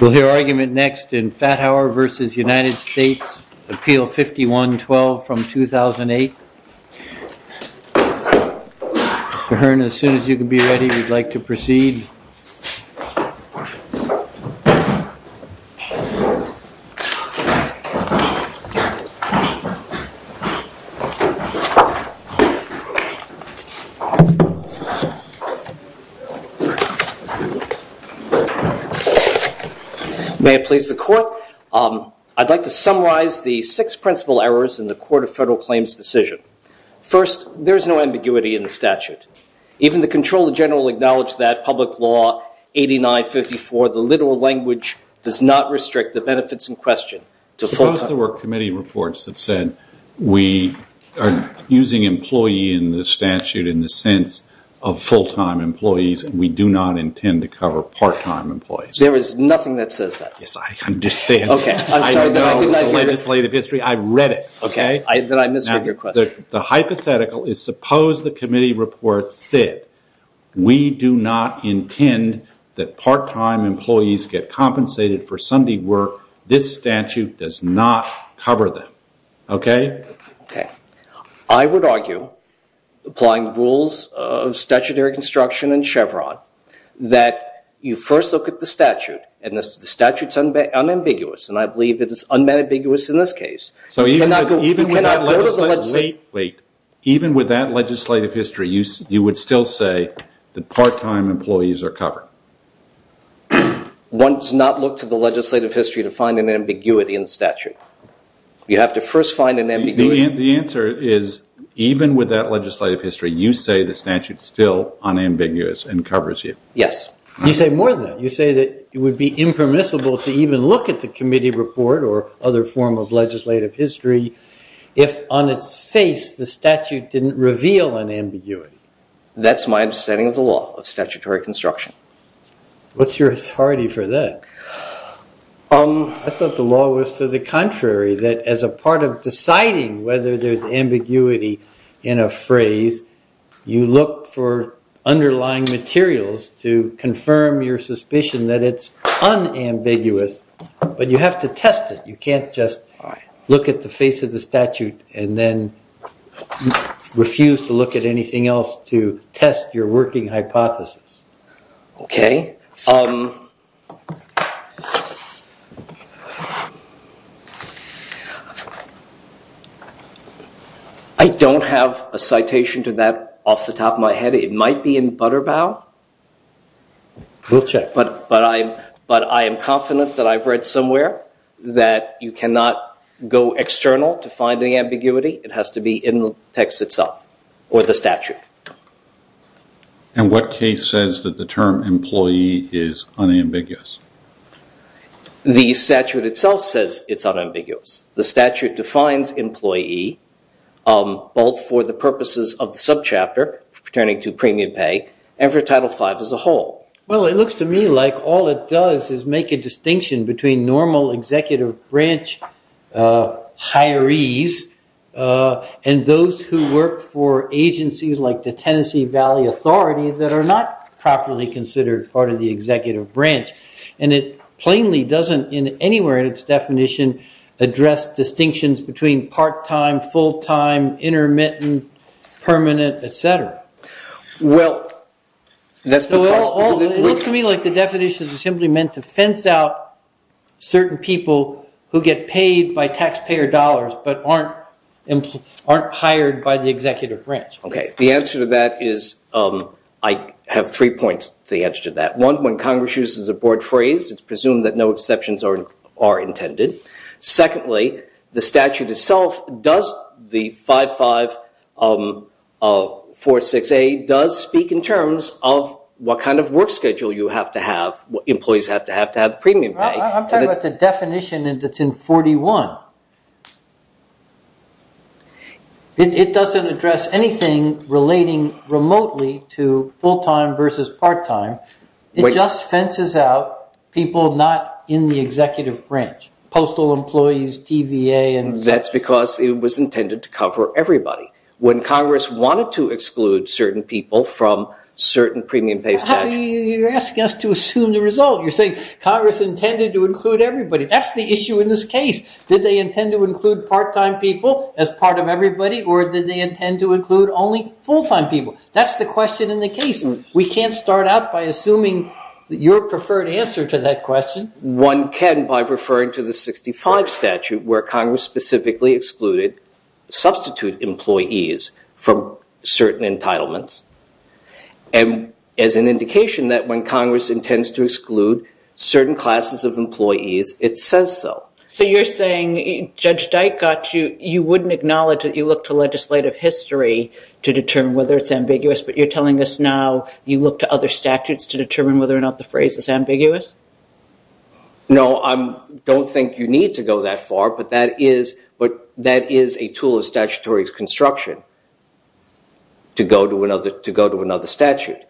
We'll hear argument next in Fathauer v. United States, Appeal 51-12 from 2008. Kahern, as soon as you can be ready, we'd like to proceed. May it please the Court, I'd like to summarize the six principal errors in the Court of Federal Claims decision. First, there is no ambiguity in the statute. Even the Comptroller General acknowledged that Public Law 8954, the literal language, does not restrict the benefits in question. Suppose there were committee reports that said we are using employee in the statute in the sense of full-time employees and we do not intend to cover part-time employees. There is nothing that says that. Yes, I understand. I know the legislative history. I've read it. Okay, then I misheard your question. The hypothetical is suppose the committee reports said we do not intend that part-time employees get compensated for Sunday work. This statute does not cover them. Okay? Okay. I would argue, applying the rules of statutory construction and Chevron, that you first look at the statute, and the statute is unambiguous, and I believe it is unambiguous in this case. Even with that legislative history, you would still say that part-time employees are covered. One does not look to the legislative history to find an ambiguity in the statute. You have to first find an ambiguity. The answer is, even with that legislative history, you say the statute is still unambiguous and covers you. Yes. You say more than that. You say that it would be impermissible to even look at the committee report or other form of legislative history if, on its face, the statute didn't reveal an ambiguity. That's my understanding of the law, of statutory construction. What's your authority for that? I thought the law was to the contrary, that as a part of deciding whether there's ambiguity in a phrase, you look for underlying materials to confirm your suspicion that it's unambiguous, but you have to test it. You can't just look at the face of the statute and then refuse to look at anything else to test your working hypothesis. Okay. I don't have a citation to that off the top of my head. It might be in Butterbaugh. We'll check. But I am confident that I've read somewhere that you cannot go external to find the ambiguity. It has to be in the text itself or the statute. And what case says that the term employee is unambiguous? The statute itself says it's unambiguous. The statute defines employee both for the purposes of the subchapter, pertaining to premium pay, and for Title V as a whole. Well, it looks to me like all it does is make a distinction between normal executive branch hirees and those who work for agencies like the Tennessee Valley Authority that are not properly considered part of the executive branch. And it plainly doesn't, anywhere in its definition, address distinctions between part-time, full-time, intermittent, permanent, et cetera. Well, that's because... It looks to me like the definition is simply meant to fence out certain people who get paid by taxpayer dollars but aren't hired by the executive branch. Okay. The answer to that is, I have three points to the answer to that. One, when Congress uses a board phrase, it's presumed that no exceptions are intended. Secondly, the statute itself, the 5546A, does speak in terms of what kind of work schedule you have to have, what employees have to have to have premium pay. I'm talking about the definition that's in 41. It doesn't address anything relating remotely to full-time versus part-time. It just fences out people not in the executive branch, postal employees, TVA. That's because it was intended to cover everybody. When Congress wanted to exclude certain people from certain premium pay statutes... You're asking us to assume the result. You're saying Congress intended to include everybody. That's the issue in this case. Did they intend to include part-time people as part of everybody or did they intend to include only full-time people? That's the question in the case. We can't start out by assuming your preferred answer to that question. One can by referring to the 65 statute where Congress specifically excluded substitute employees from certain entitlements. As an indication that when Congress intends to exclude certain classes of employees, it says so. So you're saying Judge Dykert, you wouldn't acknowledge that you look to legislative history to determine whether it's ambiguous, but you're telling us now you look to other statutes to determine whether or not the phrase is ambiguous? No, I don't think you need to go that far, but that is a tool of statutory construction to go to another statute.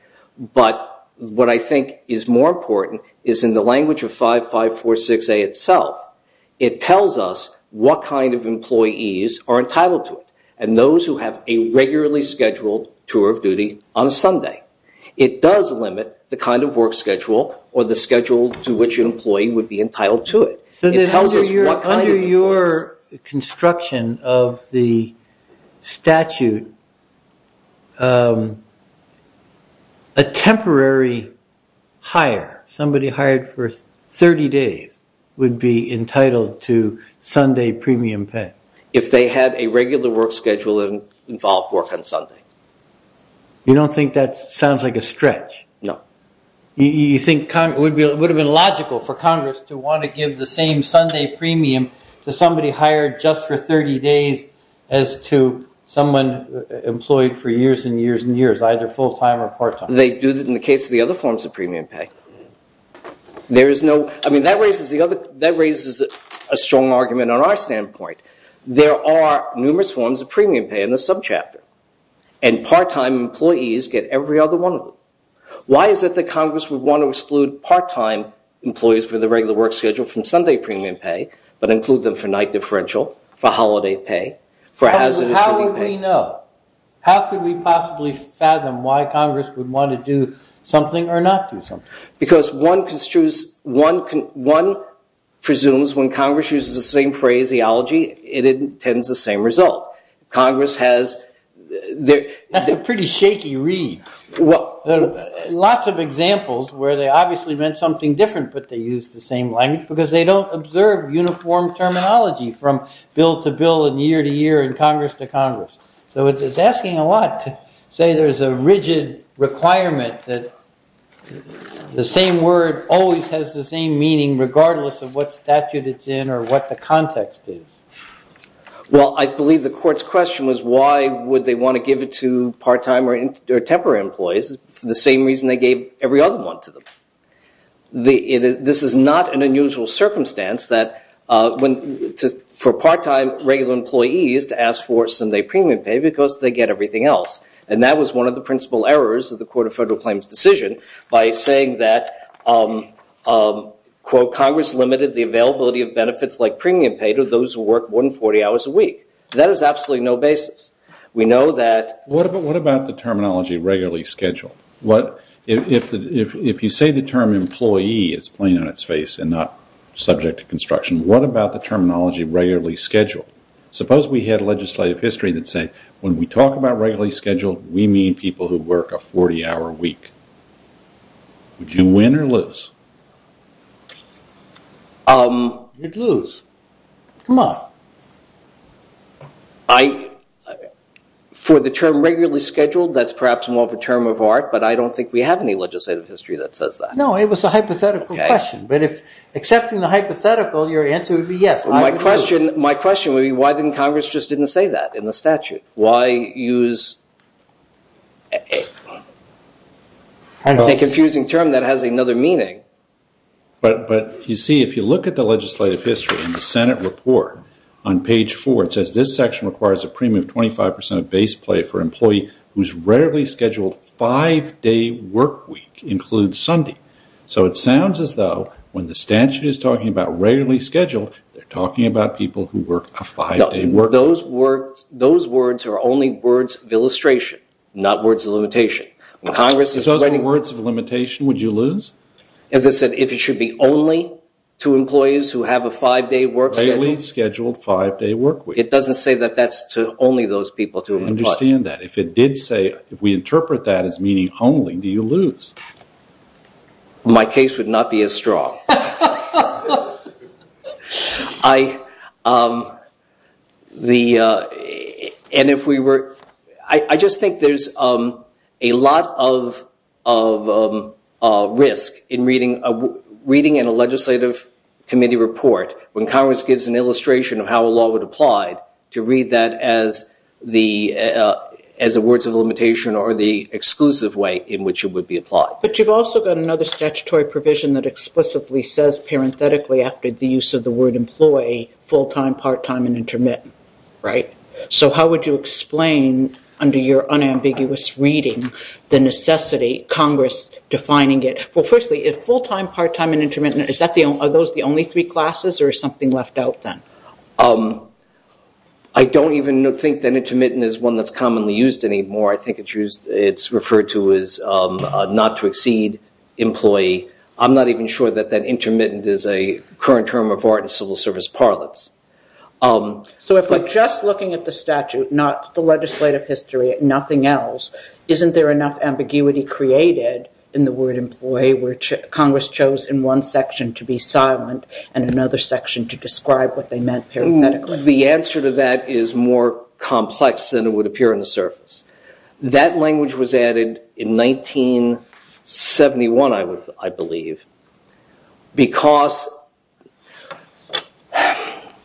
But what I think is more important is in the language of 5546A itself. It tells us what kind of employees are entitled to it and those who have a regularly scheduled tour of duty on a Sunday. It does limit the kind of work schedule or the schedule to which an employee would be entitled to it. Under your construction of the statute, a temporary hire, somebody hired for 30 days, would be entitled to Sunday premium pay? If they had a regular work schedule that involved work on Sunday. You don't think that sounds like a stretch? No. You think it would have been logical for Congress to want to give the same Sunday premium to somebody hired just for 30 days as to someone employed for years and years and years, either full-time or part-time? They do that in the case of the other forms of premium pay. That raises a strong argument on our standpoint. There are numerous forms of premium pay in the subchapter, and part-time employees get every other one of them. Why is it that Congress would want to exclude part-time employees for the regular work schedule from Sunday premium pay but include them for night differential, for holiday pay, for hazardous duty pay? How would we know? How could we possibly fathom why Congress would want to do something or not do something? Because one presumes when Congress uses the same phraseology, it intends the same result. That's a pretty shaky read. Lots of examples where they obviously meant something different, but they used the same language because they don't observe uniform terminology from bill to bill and year to year and Congress to Congress. So it's asking a lot to say there's a rigid requirement that the same word always has the same meaning regardless of what statute it's in or what the context is. Well, I believe the court's question was why would they want to give it to part-time or temporary employees for the same reason they gave every other one to them. This is not an unusual circumstance for part-time regular employees to ask for Sunday premium pay because they get everything else. And that was one of the principal errors of the Court of Federal Claims decision by saying that, quote, Congress limited the availability of benefits like premium pay to those who work more than 40 hours a week. That is absolutely no basis. We know that... What about the terminology regularly scheduled? If you say the term employee is plain on its face and not subject to construction, what about the terminology regularly scheduled? Suppose we had a legislative history that said when we talk about regularly scheduled, we mean people who work a 40-hour week. Would you win or lose? You'd lose. Come on. For the term regularly scheduled, that's perhaps more of a term of art, but I don't think we have any legislative history that says that. No, it was a hypothetical question. But if accepting the hypothetical, your answer would be yes. My question would be why didn't Congress just didn't say that in the statute? Why use a confusing term that has another meaning? But, you see, if you look at the legislative history in the Senate report on page 4, it says this section requires a premium of 25% of base pay for an employee whose rarely scheduled five-day work week includes Sunday. So it sounds as though when the statute is talking about rarely scheduled, those words are only words of illustration, not words of limitation. If those were words of limitation, would you lose? As I said, if it should be only to employees who have a five-day work schedule. Rarely scheduled five-day work week. It doesn't say that that's to only those people. I understand that. If it did say, if we interpret that as meaning only, do you lose? My case would not be as strong. I just think there's a lot of risk in reading in a legislative committee report when Congress gives an illustration of how a law would apply to read that as the words of limitation or the exclusive way in which it would be applied. But you've also got another statutory provision that explicitly says parenthetically after the use of the word employee, full-time, part-time, and intermittent. So how would you explain under your unambiguous reading the necessity, Congress defining it? Well, firstly, if full-time, part-time, and intermittent, are those the only three classes or is something left out then? I don't even think that intermittent is one that's commonly used anymore. I think it's referred to as not to exceed employee. I'm not even sure that that intermittent is a current term of art in civil service parlance. So if we're just looking at the statute, not the legislative history, nothing else, isn't there enough ambiguity created in the word employee where Congress chose in one section to be silent and another section to describe what they meant parenthetically? The answer to that is more complex than it would appear on the surface. That language was added in 1971, I believe, because...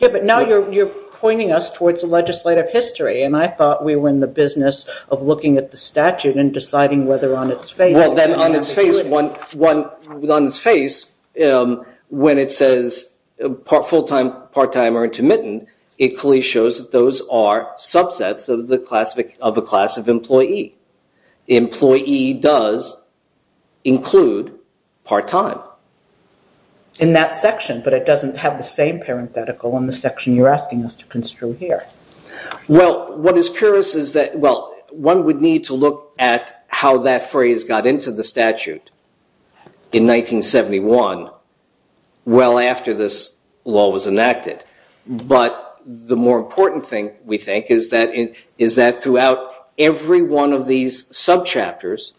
Yeah, but now you're pointing us towards the legislative history and I thought we were in the business of looking at the statute and deciding whether on its face... Well, then on its face, when it says full-time, part-time, or intermittent, it clearly shows that those are subsets of a class of employee. Employee does include part-time. In that section, but it doesn't have the same parenthetical in the section you're asking us to construe here. Well, what is curious is that one would need to look at how that phrase got into the statute in 1971, well after this law was enacted. But the more important thing, we think, is that throughout every one of these subchapters,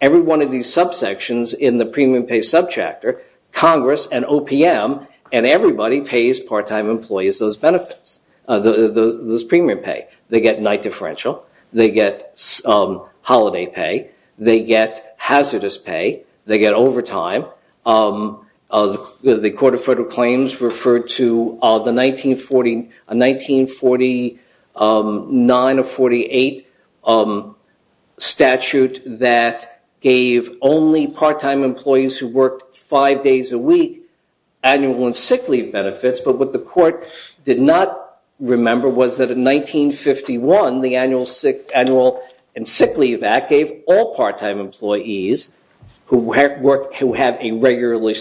every one of these subsections in the premium pay subchapter, Congress and OPM and everybody pays part-time employees those benefits, those premium pay. They get night differential, they get holiday pay, they get hazardous pay, they get overtime. The Court of Federal Claims referred to the 1949 or 1948 statute that gave only part-time employees who worked five days a week annual and sick leave benefits. But what the court did not remember was that in 1951, the annual and sick leave act gave all part-time employees who have a regular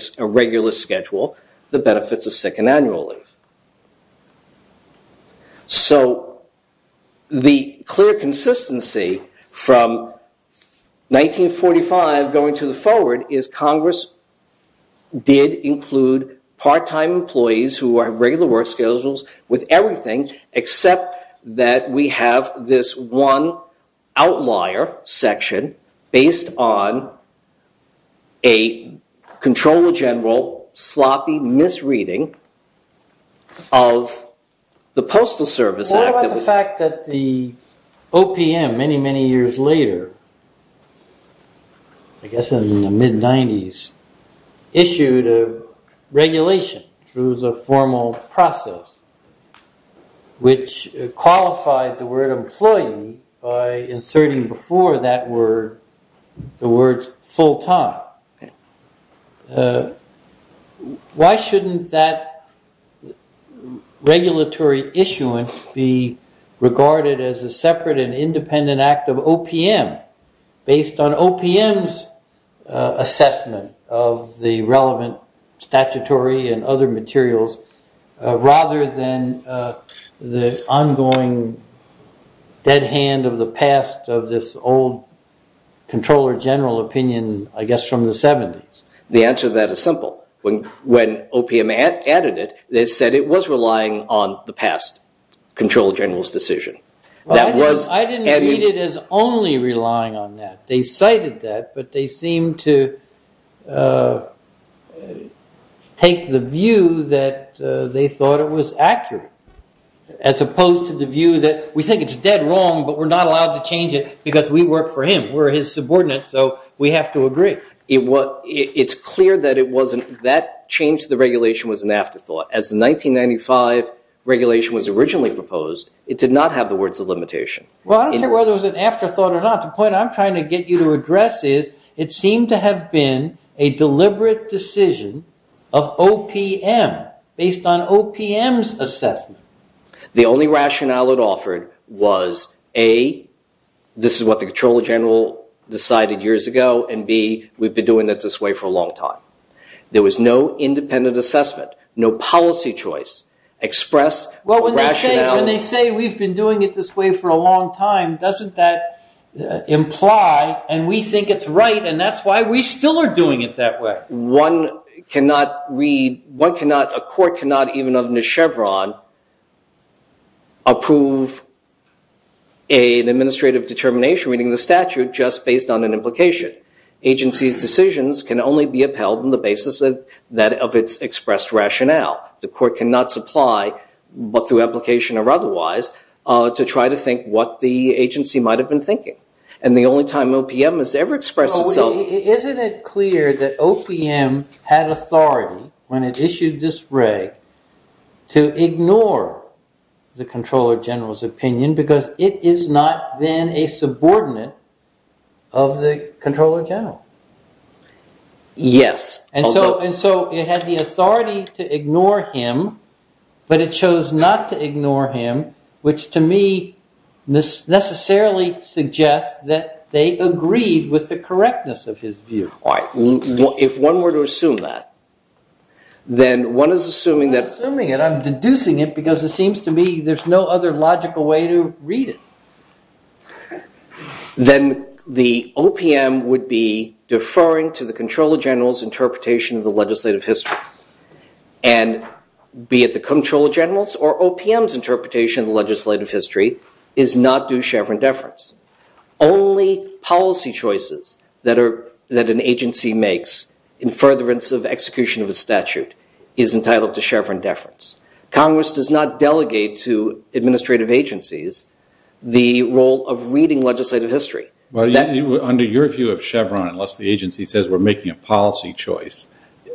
schedule, the benefits of sick and annual leave. So the clear consistency from 1945 going to the forward is Congress did include part-time employees who have regular work schedules with everything except that we have this one outlier section based on a controller general sloppy misreading of the Postal Service Act. What about the fact that the OPM many, many years later, I guess in the mid-90s, issued a regulation through the formal process which qualified the word employee by inserting before that word the word full-time. Why shouldn't that regulatory issuance be regarded as a separate and independent act of OPM based on OPM's assessment of the relevant statutory and other materials rather than the ongoing dead hand of the past of this old controller general opinion I guess from the 70s? The answer to that is simple. When OPM added it, they said it was relying on the past controller general's decision. I didn't read it as only relying on that. They cited that, but they seemed to take the view that they thought it was accurate as opposed to the view that we think it's dead wrong, but we're not allowed to change it because we work for him. We're his subordinates, so we have to agree. It's clear that that change to the regulation was an afterthought. As the 1995 regulation was originally proposed, it did not have the words of limitation. Well, I don't care whether it was an afterthought or not. The point I'm trying to get you to address is it seemed to have been a deliberate decision of OPM based on OPM's assessment. The only rationale it offered was A, this is what the controller general decided years ago, and B, we've been doing it this way for a long time. There was no independent assessment, no policy choice expressed rationality. Well, when they say we've been doing it this way for a long time, doesn't that imply, and we think it's right and that's why we still are doing it that way? One cannot read, a court cannot even under Chevron approve an administrative determination reading the statute just based on an implication. Agency's decisions can only be upheld on the basis of its expressed rationale. The court cannot supply, but through application or otherwise, to try to think what the agency might have been thinking. And the only time OPM has ever expressed itself- Isn't it clear that OPM had authority when it issued this reg to ignore the controller general's opinion because it is not then a subordinate of the controller general. Yes. And so it had the authority to ignore him, but it chose not to ignore him, which to me necessarily suggests that they agreed with the correctness of his view. If one were to assume that, then one is assuming that- I'm not assuming it, I'm deducing it because it seems to me there's no other logical way to read it. Then the OPM would be deferring to the controller general's interpretation of the legislative history. And be it the controller general's or OPM's interpretation of the legislative history is not due Chevron deference. Only policy choices that an agency makes in furtherance of execution of a statute is entitled to Chevron deference. Congress does not delegate to administrative agencies the role of reading legislative history. Under your view of Chevron, unless the agency says we're making a policy choice,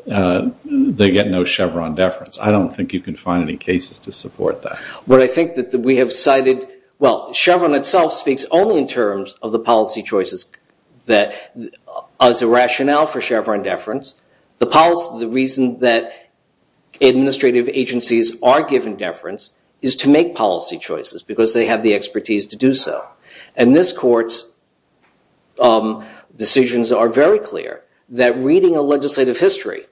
they get no Chevron deference. I don't think you can find any cases to support that. Well, I think that we have cited- Well, Chevron itself speaks only in terms of the policy choices as a rationale for Chevron deference. The reason that administrative agencies are given deference is to make policy choices because they have the expertise to do so. And this court's decisions are very clear that reading a legislative history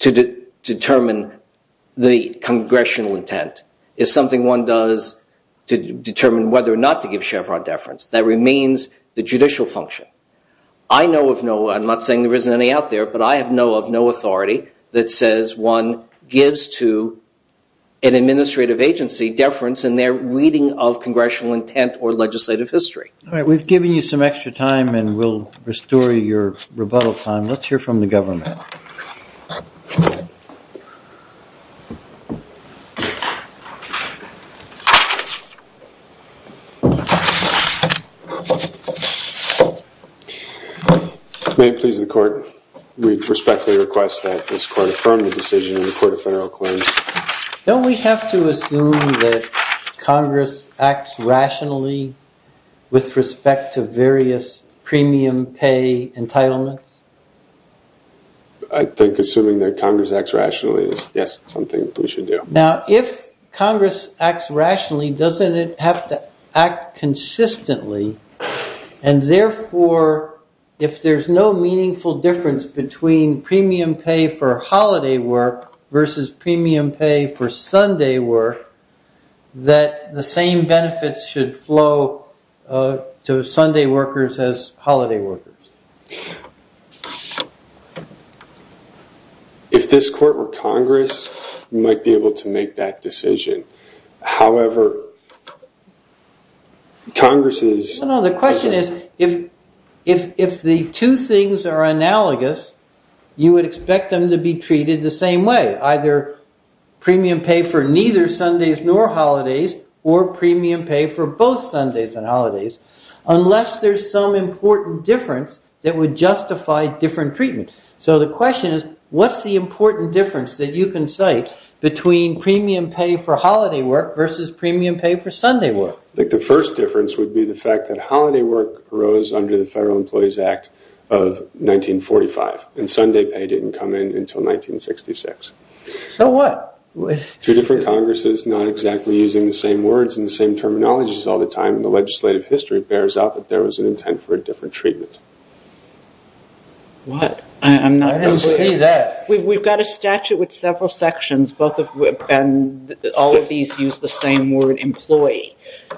to determine the congressional intent is something one does to determine whether or not to give Chevron deference. That remains the judicial function. I know of no- I'm not saying there isn't any out there, but I know of no authority that says one gives to an administrative agency deference in their reading of congressional intent or legislative history. All right, we've given you some extra time and we'll restore your rebuttal time. Let's hear from the government. May it please the court, we respectfully request that this court affirm the decision in the Court of Federal Claims. Don't we have to assume that Congress acts rationally with respect to various premium pay entitlements? I think assuming that Congress acts rationally is, yes, something we should do. Now, if Congress acts rationally, doesn't it have to act consistently and therefore if there's no meaningful difference between premium pay for holiday work versus premium pay for Sunday work, that the same benefits should flow to Sunday workers as holiday workers? If this court were Congress, we might be able to make that decision. However, Congress is- No, no, the question is, if the two things are analogous, you would expect them to be treated the same way, either premium pay for neither Sundays nor holidays or premium pay for both Sundays and holidays, unless there's some important difference that would justify different treatment. So the question is, what's the important difference that you can cite between premium pay for holiday work versus premium pay for Sunday work? The first difference would be the fact that holiday work arose under the Federal Employees Act of 1945 and Sunday pay didn't come in until 1966. So what? Two different Congresses not exactly using the same words and the same terminologies all the time in the legislative history bears out that there was an intent for a different treatment. What? I didn't see that. We've got a statute with several sections, and all of these use the same word, employee.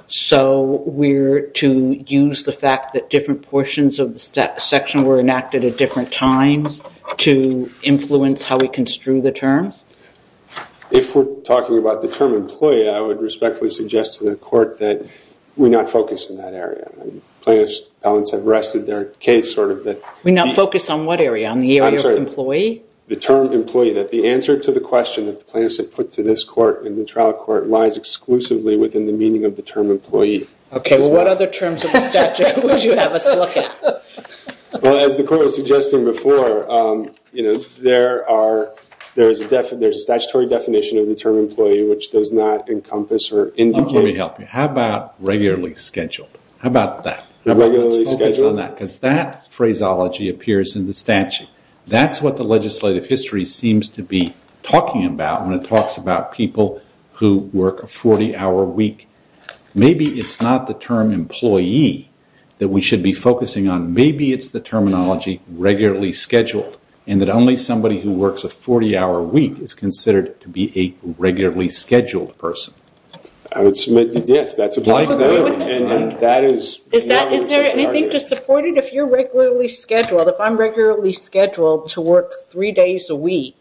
So we're to use the fact that different portions of the section were enacted at different times to influence how we construe the terms? If we're talking about the term employee, I would respectfully suggest to the court that we not focus in that area. Plaintiffs have rested their case. We not focus on what area? On the area of employee? The term employee, that the answer to the question that the plaintiffs have put to this court and the trial court lies exclusively within the meaning of the term employee. Okay, well what other terms of the statute would you have us look at? Well, as the court was suggesting before, there is a statutory definition of the term employee which does not encompass or indicate Let me help you. How about regularly scheduled? How about that? Regularly scheduled? Because that phraseology appears in the statute. That's what the legislative history seems to be talking about when it talks about people who work a 40-hour week. Maybe it's not the term employee that we should be focusing on. Maybe it's the terminology regularly scheduled and that only somebody who works a 40-hour week is considered to be a regularly scheduled person. Yes, that's a possibility. Is there anything to support it? If you're regularly scheduled, if I'm regularly scheduled to work 3 days a week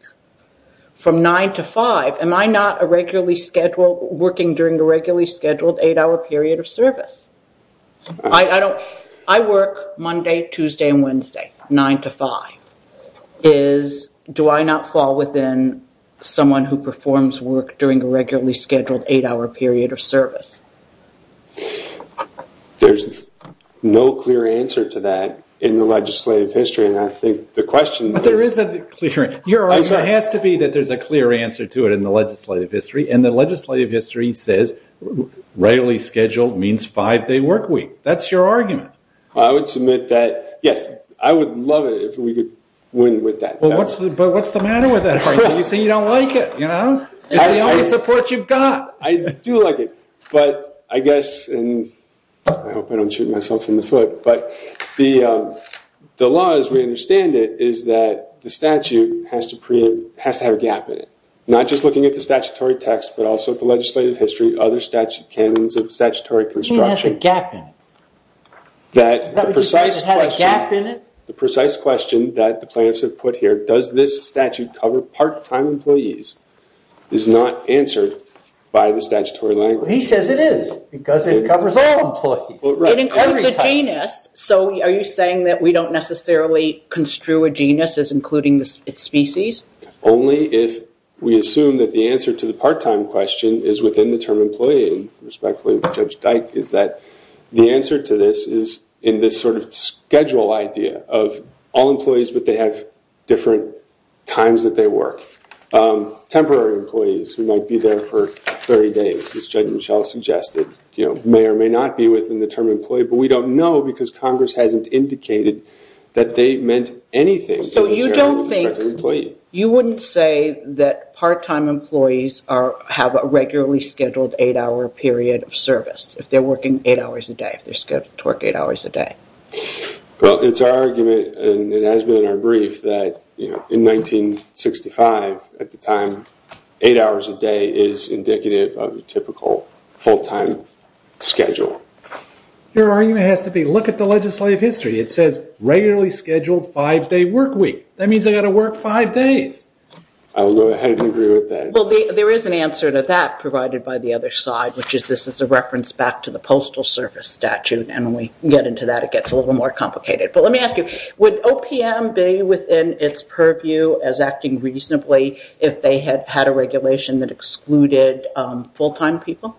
from 9 to 5, am I not a regularly scheduled, working during a regularly scheduled 8-hour period of service? I work Monday, Tuesday, and Wednesday, 9 to 5. Do I not fall within someone who performs work during a regularly scheduled 8-hour period of service? There's no clear answer to that in the legislative history. I think the question is... But there is a clear answer. It has to be that there's a clear answer to it in the legislative history. And the legislative history says regularly scheduled means 5-day work week. That's your argument. I would submit that, yes, I would love it if we could win with that. But what's the matter with that? You say you don't like it, you know? It's the only support you've got. I do like it. But I guess, and I hope I don't shoot myself in the foot, but the law as we understand it is that the statute has to have a gap in it. Not just looking at the statutory text, but also the legislative history, other statute canons of statutory construction. It has a gap in it. The precise question that the plaintiffs have put here, does this statute cover part-time employees, is not answered by the statutory language. He says it is, because it covers all employees. It includes a genus, so are you saying that we don't necessarily construe a genus as including its species? Only if we assume that the answer to the part-time question is within the term employee, and respectfully, Judge Dike, is that the answer to this is in this sort of schedule idea of all employees, but they have different times that they work. Temporary employees who might be there for 30 days, as Judge Mischel suggested, may or may not be within the term employee, but we don't know because Congress hasn't indicated that they meant anything. So you don't think, you wouldn't say that part-time employees have a regularly scheduled eight-hour period of service, if they're working eight hours a day, if they're scheduled to work eight hours a day? Well, it's our argument, and it has been in our brief, that in 1965, at the time, eight hours a day is indicative of a typical full-time schedule. Your argument has to be, look at the legislative history. It says regularly scheduled five-day work week. That means they've got to work five days. I'll go ahead and agree with that. Well, there is an answer to that provided by the other side, which is this is a reference back to the Postal Service Statute, and when we get into that, it gets a little more complicated. But let me ask you, would OPM be within its purview as acting reasonably if they had had a regulation that excluded full-time people,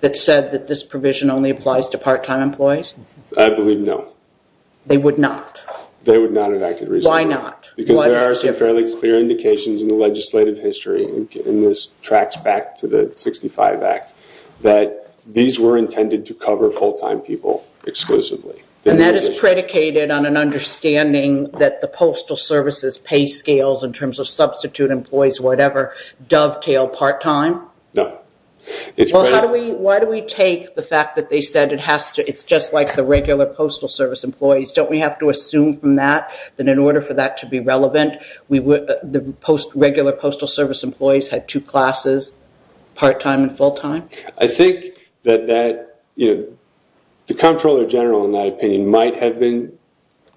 that said that this provision only applies to part-time employees? I believe no. They would not? They would not have acted reasonably. Why not? Because there are some fairly clear indications in the legislative history, and this tracks back to the 1965 Act, that these were intended to cover full-time people exclusively. And that is predicated on an understanding that the Postal Service's pay scales, in terms of substitute employees, whatever, dovetail part-time? No. Why do we take the fact that they said it's just like the regular Postal Service employees? Don't we have to assume from that that in order for that to be relevant, the regular Postal Service employees had two classes, part-time and full-time? I think that the Comptroller General, in that opinion, might have been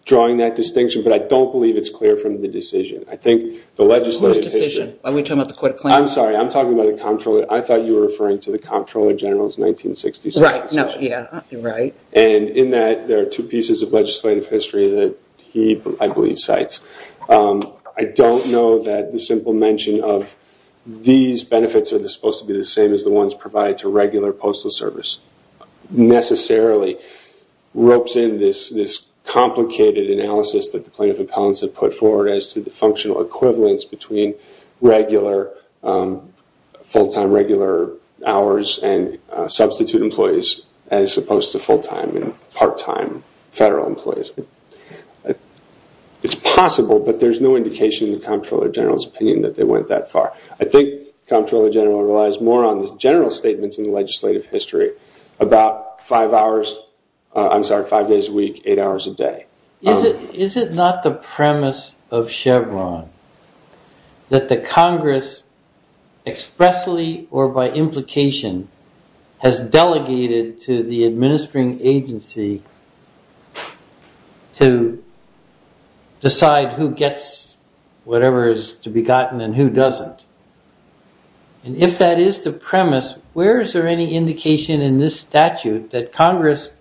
drawing that distinction, but I don't believe it's clear from the decision. Whose decision? Are we talking about the Court of Claims? I'm sorry, I'm talking about the Comptroller. I thought you were referring to the Comptroller General's 1966 decision. Right. And in that, there are two pieces of legislative history that he, I believe, cites. I don't know that the simple mention of, these benefits are supposed to be the same as the ones provided to regular Postal Service, necessarily ropes in this complicated analysis that the plaintiff appellants have put forward as to the functional equivalence between regular, full-time regular hours and substitute employees as opposed to full-time and part-time federal employees. It's possible, but there's no indication in the Comptroller General's opinion that they went that far. I think the Comptroller General relies more on the general statements in the legislative history, about five hours, I'm sorry, five days a week, eight hours a day. Is it not the premise of Chevron that the Congress expressly or by implication has delegated to the administering agency to decide who gets whatever is to be gotten and who doesn't? And if that is the premise, where is there any indication in this statute that Congress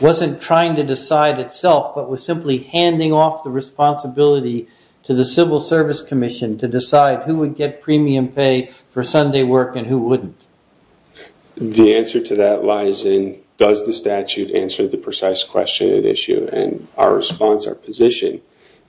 wasn't trying to decide itself but was simply handing off the responsibility to the Civil Service Commission to decide who would get premium pay for Sunday work and who wouldn't? The answer to that lies in, does the statute answer the precise question at issue? And our response, our position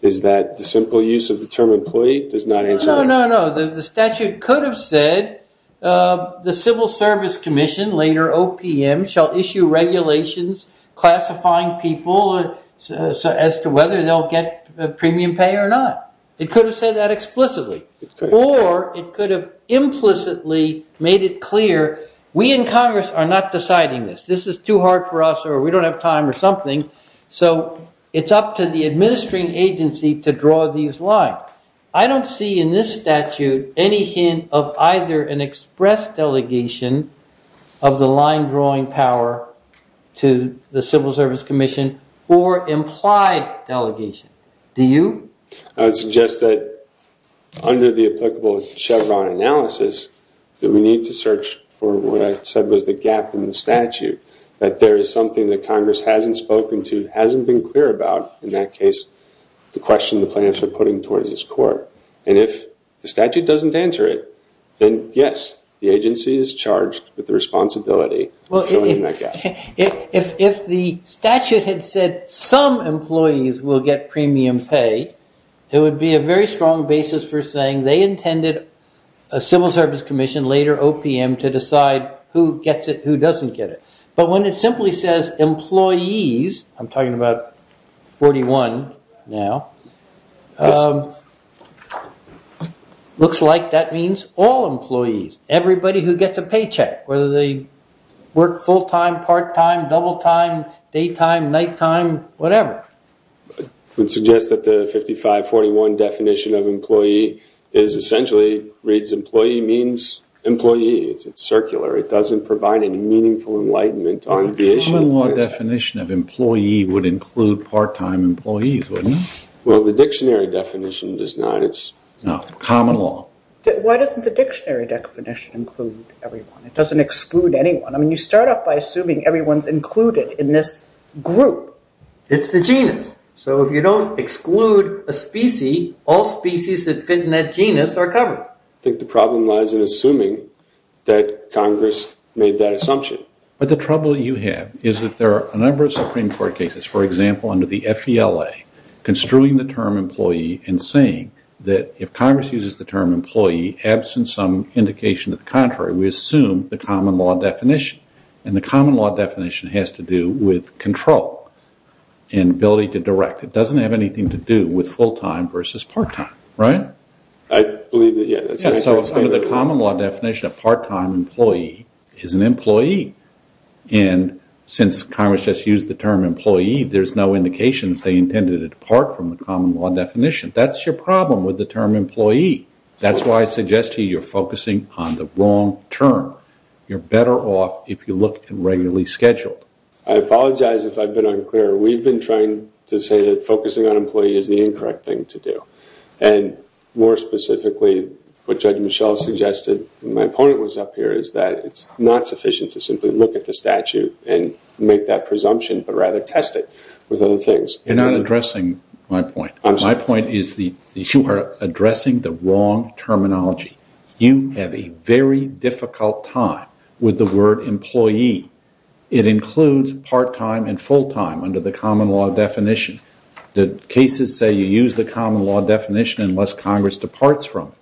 is that the simple use of the term employee does not answer... No, no, no. The statute could have said, the Civil Service Commission, later OPM, shall issue regulations classifying people as to whether they'll get premium pay or not. It could have said that explicitly. Or it could have implicitly made it clear, we in Congress are not deciding this. This is too hard for us or we don't have time or something. So it's up to the administering agency to draw these lines. Now, I don't see in this statute any hint of either an express delegation of the line drawing power to the Civil Service Commission or implied delegation. Do you? I would suggest that under the applicable Chevron analysis, that we need to search for what I said was the gap in the statute. That there is something that Congress hasn't spoken to, hasn't been clear about, in that case, the question the plaintiffs are putting towards this court. And if the statute doesn't answer it, then yes, the agency is charged with the responsibility of filling in that gap. If the statute had said some employees will get premium pay, it would be a very strong basis for saying they intended a Civil Service Commission, later OPM, to decide who gets it, who doesn't get it. But when it simply says employees, I'm talking about 41 now, looks like that means all employees, everybody who gets a paycheck, whether they work full-time, part-time, double-time, daytime, nighttime, whatever. I would suggest that the 5541 definition of employee is essentially, reads employee means employee. It's circular. It doesn't provide any meaningful enlightenment on the issue. But the common law definition of employee would include part-time employees, wouldn't it? Well, the dictionary definition does not. No, common law. Why doesn't the dictionary definition include everyone? It doesn't exclude anyone. I mean, you start off by assuming everyone's included in this group. It's the genus. So if you don't exclude a species, all species that fit in that genus are covered. I think the problem lies in assuming that Congress made that assumption. But the trouble you have is that there are a number of Supreme Court cases, for example, under the FELA, construing the term employee and saying that if Congress uses the term employee, absent some indication of the contrary, we assume the common law definition. And the common law definition has to do with control and ability to direct. It doesn't have anything to do with full-time versus part-time, right? I believe that, yeah. So under the common law definition, a part-time employee is an employee. And since Congress just used the term employee, there's no indication that they intended it apart from the common law definition. That's your problem with the term employee. That's why I suggest to you you're focusing on the wrong term. You're better off if you look at regularly scheduled. I apologize if I've been unclear. We've been trying to say that focusing on employee is the incorrect thing to do. And more specifically, what Judge Michel suggested when my opponent was up here is that it's not sufficient to simply look at the statute and make that presumption but rather test it with other things. You're not addressing my point. My point is that you are addressing the wrong terminology. You have a very difficult time with the word employee. It includes part-time and full-time under the common law definition. The cases say you use the common law definition unless Congress departs from it.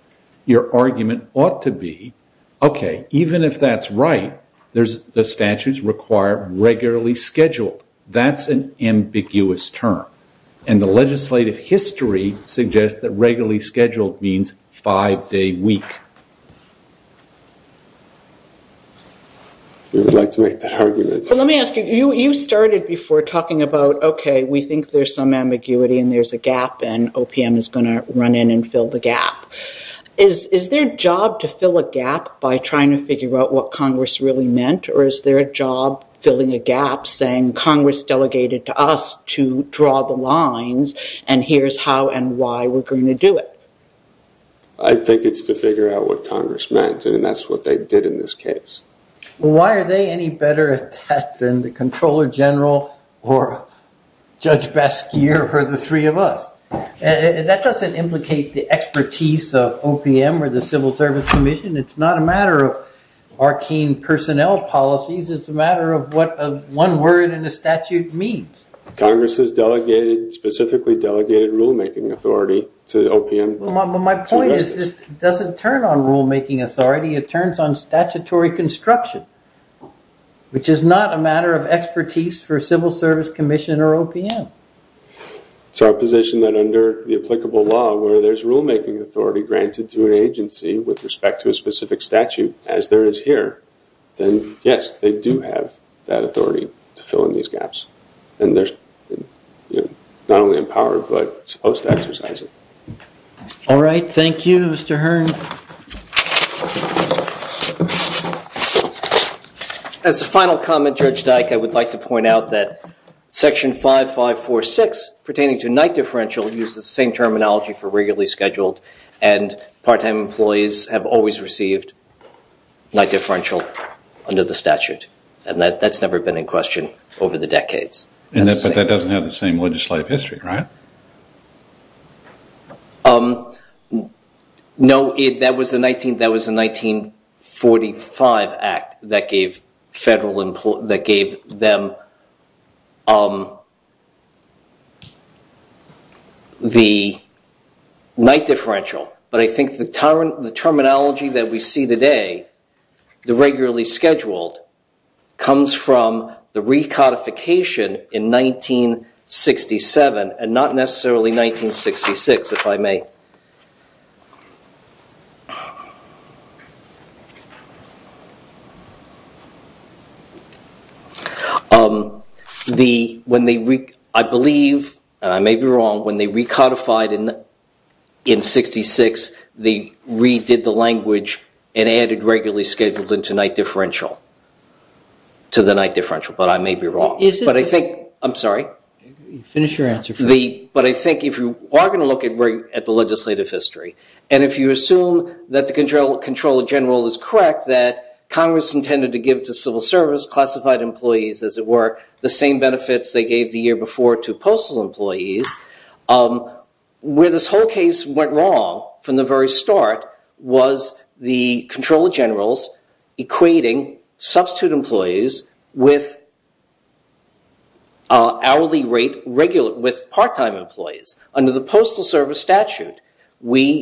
Your argument ought to be, okay, even if that's right, the statutes require regularly scheduled. That's an ambiguous term. And the legislative history suggests that regularly scheduled means five-day week. We would like to make that argument. Let me ask you, you started before talking about, okay, we think there's some ambiguity and there's a gap and OPM is going to run in and fill the gap. Is there a job to fill a gap by trying to figure out what Congress really meant or is there a job filling a gap saying Congress delegated to us to draw the lines and here's how and why we're going to do it? I think it's to figure out what Congress meant, and that's what they did in this case. Why are they any better at that than the Comptroller General or Judge Basquiat or the three of us? That doesn't implicate the expertise of OPM or the Civil Service Commission. It's not a matter of arcane personnel policies. It's a matter of what one word in a statute means. Congress has specifically delegated rulemaking authority to OPM. My point is it doesn't turn on rulemaking authority. It turns on statutory construction, which is not a matter of expertise for Civil Service Commission or OPM. It's our position that under the applicable law where there's rulemaking authority granted to an agency with respect to a specific statute as there is here, then yes, they do have that authority to fill in these gaps, and they're not only empowered but supposed to exercise it. All right. Thank you, Mr. Hearns. As a final comment, Judge Dyke, I would like to point out that Section 5546 pertaining to night differential uses the same terminology for regularly scheduled and part-time employees have always received night differential under the statute, and that's never been in question over the decades. But that doesn't have the same legislative history, right? No. That was a 1945 act that gave them the night differential, but I think the terminology that we see today, the regularly scheduled, comes from the recodification in 1967 and not necessarily 1966, if I may. I believe, and I may be wrong, when they recodified in 66, they redid the language and added regularly scheduled into night differential, to the night differential, but I may be wrong. I'm sorry? Finish your answer first. But I think if you are going to look at the legislative history, and if you assume that the controller general is correct that Congress intended to give to civil service, classified employees, as it were, the same benefits they gave the year before to postal employees, where this whole case went wrong from the very start was the controller generals equating substitute employees with hourly rate regular, with part-time employees. Under the postal service statute, when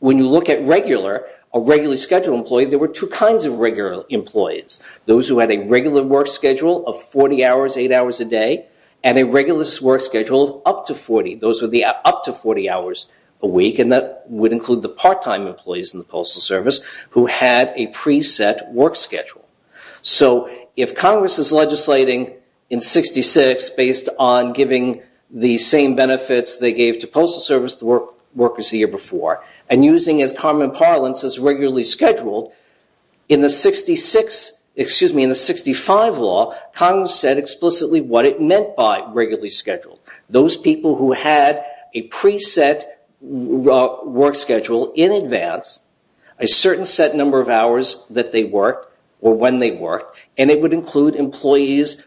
you look at regular, a regularly scheduled employee, there were two kinds of regular employees. Those who had a regular work schedule of 40 hours, 8 hours a day, and a regular work schedule of up to 40, those were the up to 40 hours a week, and that would include the part-time employees in the postal service, who had a pre-set work schedule. So if Congress is legislating in 66 based on giving the same benefits they gave to postal service workers the year before, and using as common parlance as regularly scheduled, in the 65 law, Congress said explicitly what it meant by regularly scheduled. Those people who had a pre-set work schedule in advance, a certain set number of hours that they worked, or when they worked, and it would include employees,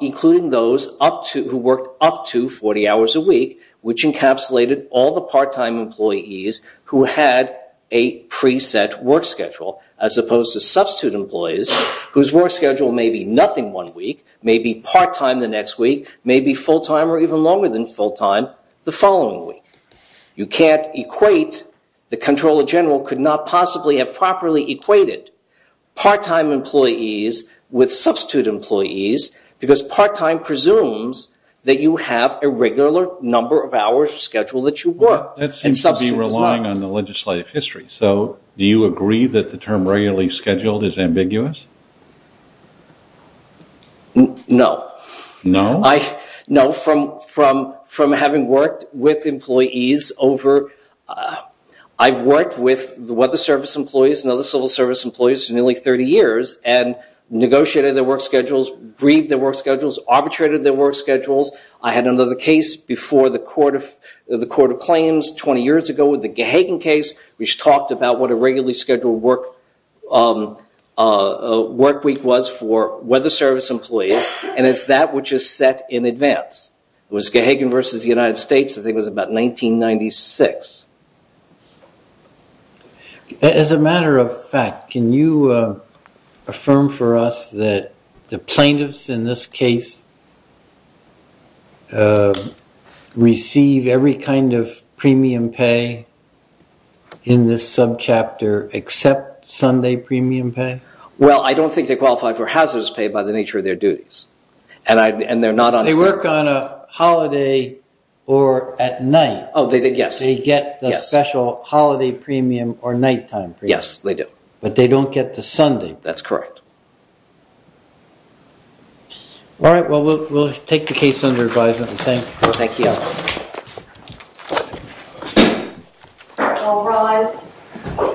including those who worked up to 40 hours a week, which encapsulated all the part-time employees who had a pre-set work schedule, as opposed to substitute employees, whose work schedule may be nothing one week, may be part-time the next week, may be full-time or even longer than full-time the following week. You can't equate, the controller general could not possibly have properly equated part-time employees with substitute employees, because part-time presumes that you have a regular number of hours scheduled that you work, and substitute is not. That seems to be relying on the legislative history, so do you agree that the term regularly scheduled is ambiguous? No. No? No, from having worked with employees over, I've worked with weather service employees and other civil service employees for nearly 30 years, and negotiated their work schedules, agreed their work schedules, arbitrated their work schedules. I had another case before the Court of Claims 20 years ago with the Gahagan case, which talked about what a regularly scheduled work week was for weather service employees, and it's that which is set in advance. It was Gahagan versus the United States, I think it was about 1996. As a matter of fact, can you affirm for us that the plaintiffs in this case receive every kind of premium pay in this subchapter except Sunday premium pay? Well, I don't think they qualify for hazardous pay by the nature of their duties, and they're not on schedule. They work on a holiday or at night. Oh, yes. They get the special holiday premium or nighttime premium. Yes, they do. But they don't get the Sunday. That's correct. All right, well, we'll take the case under advisement. Thank you. Thank you. All rise.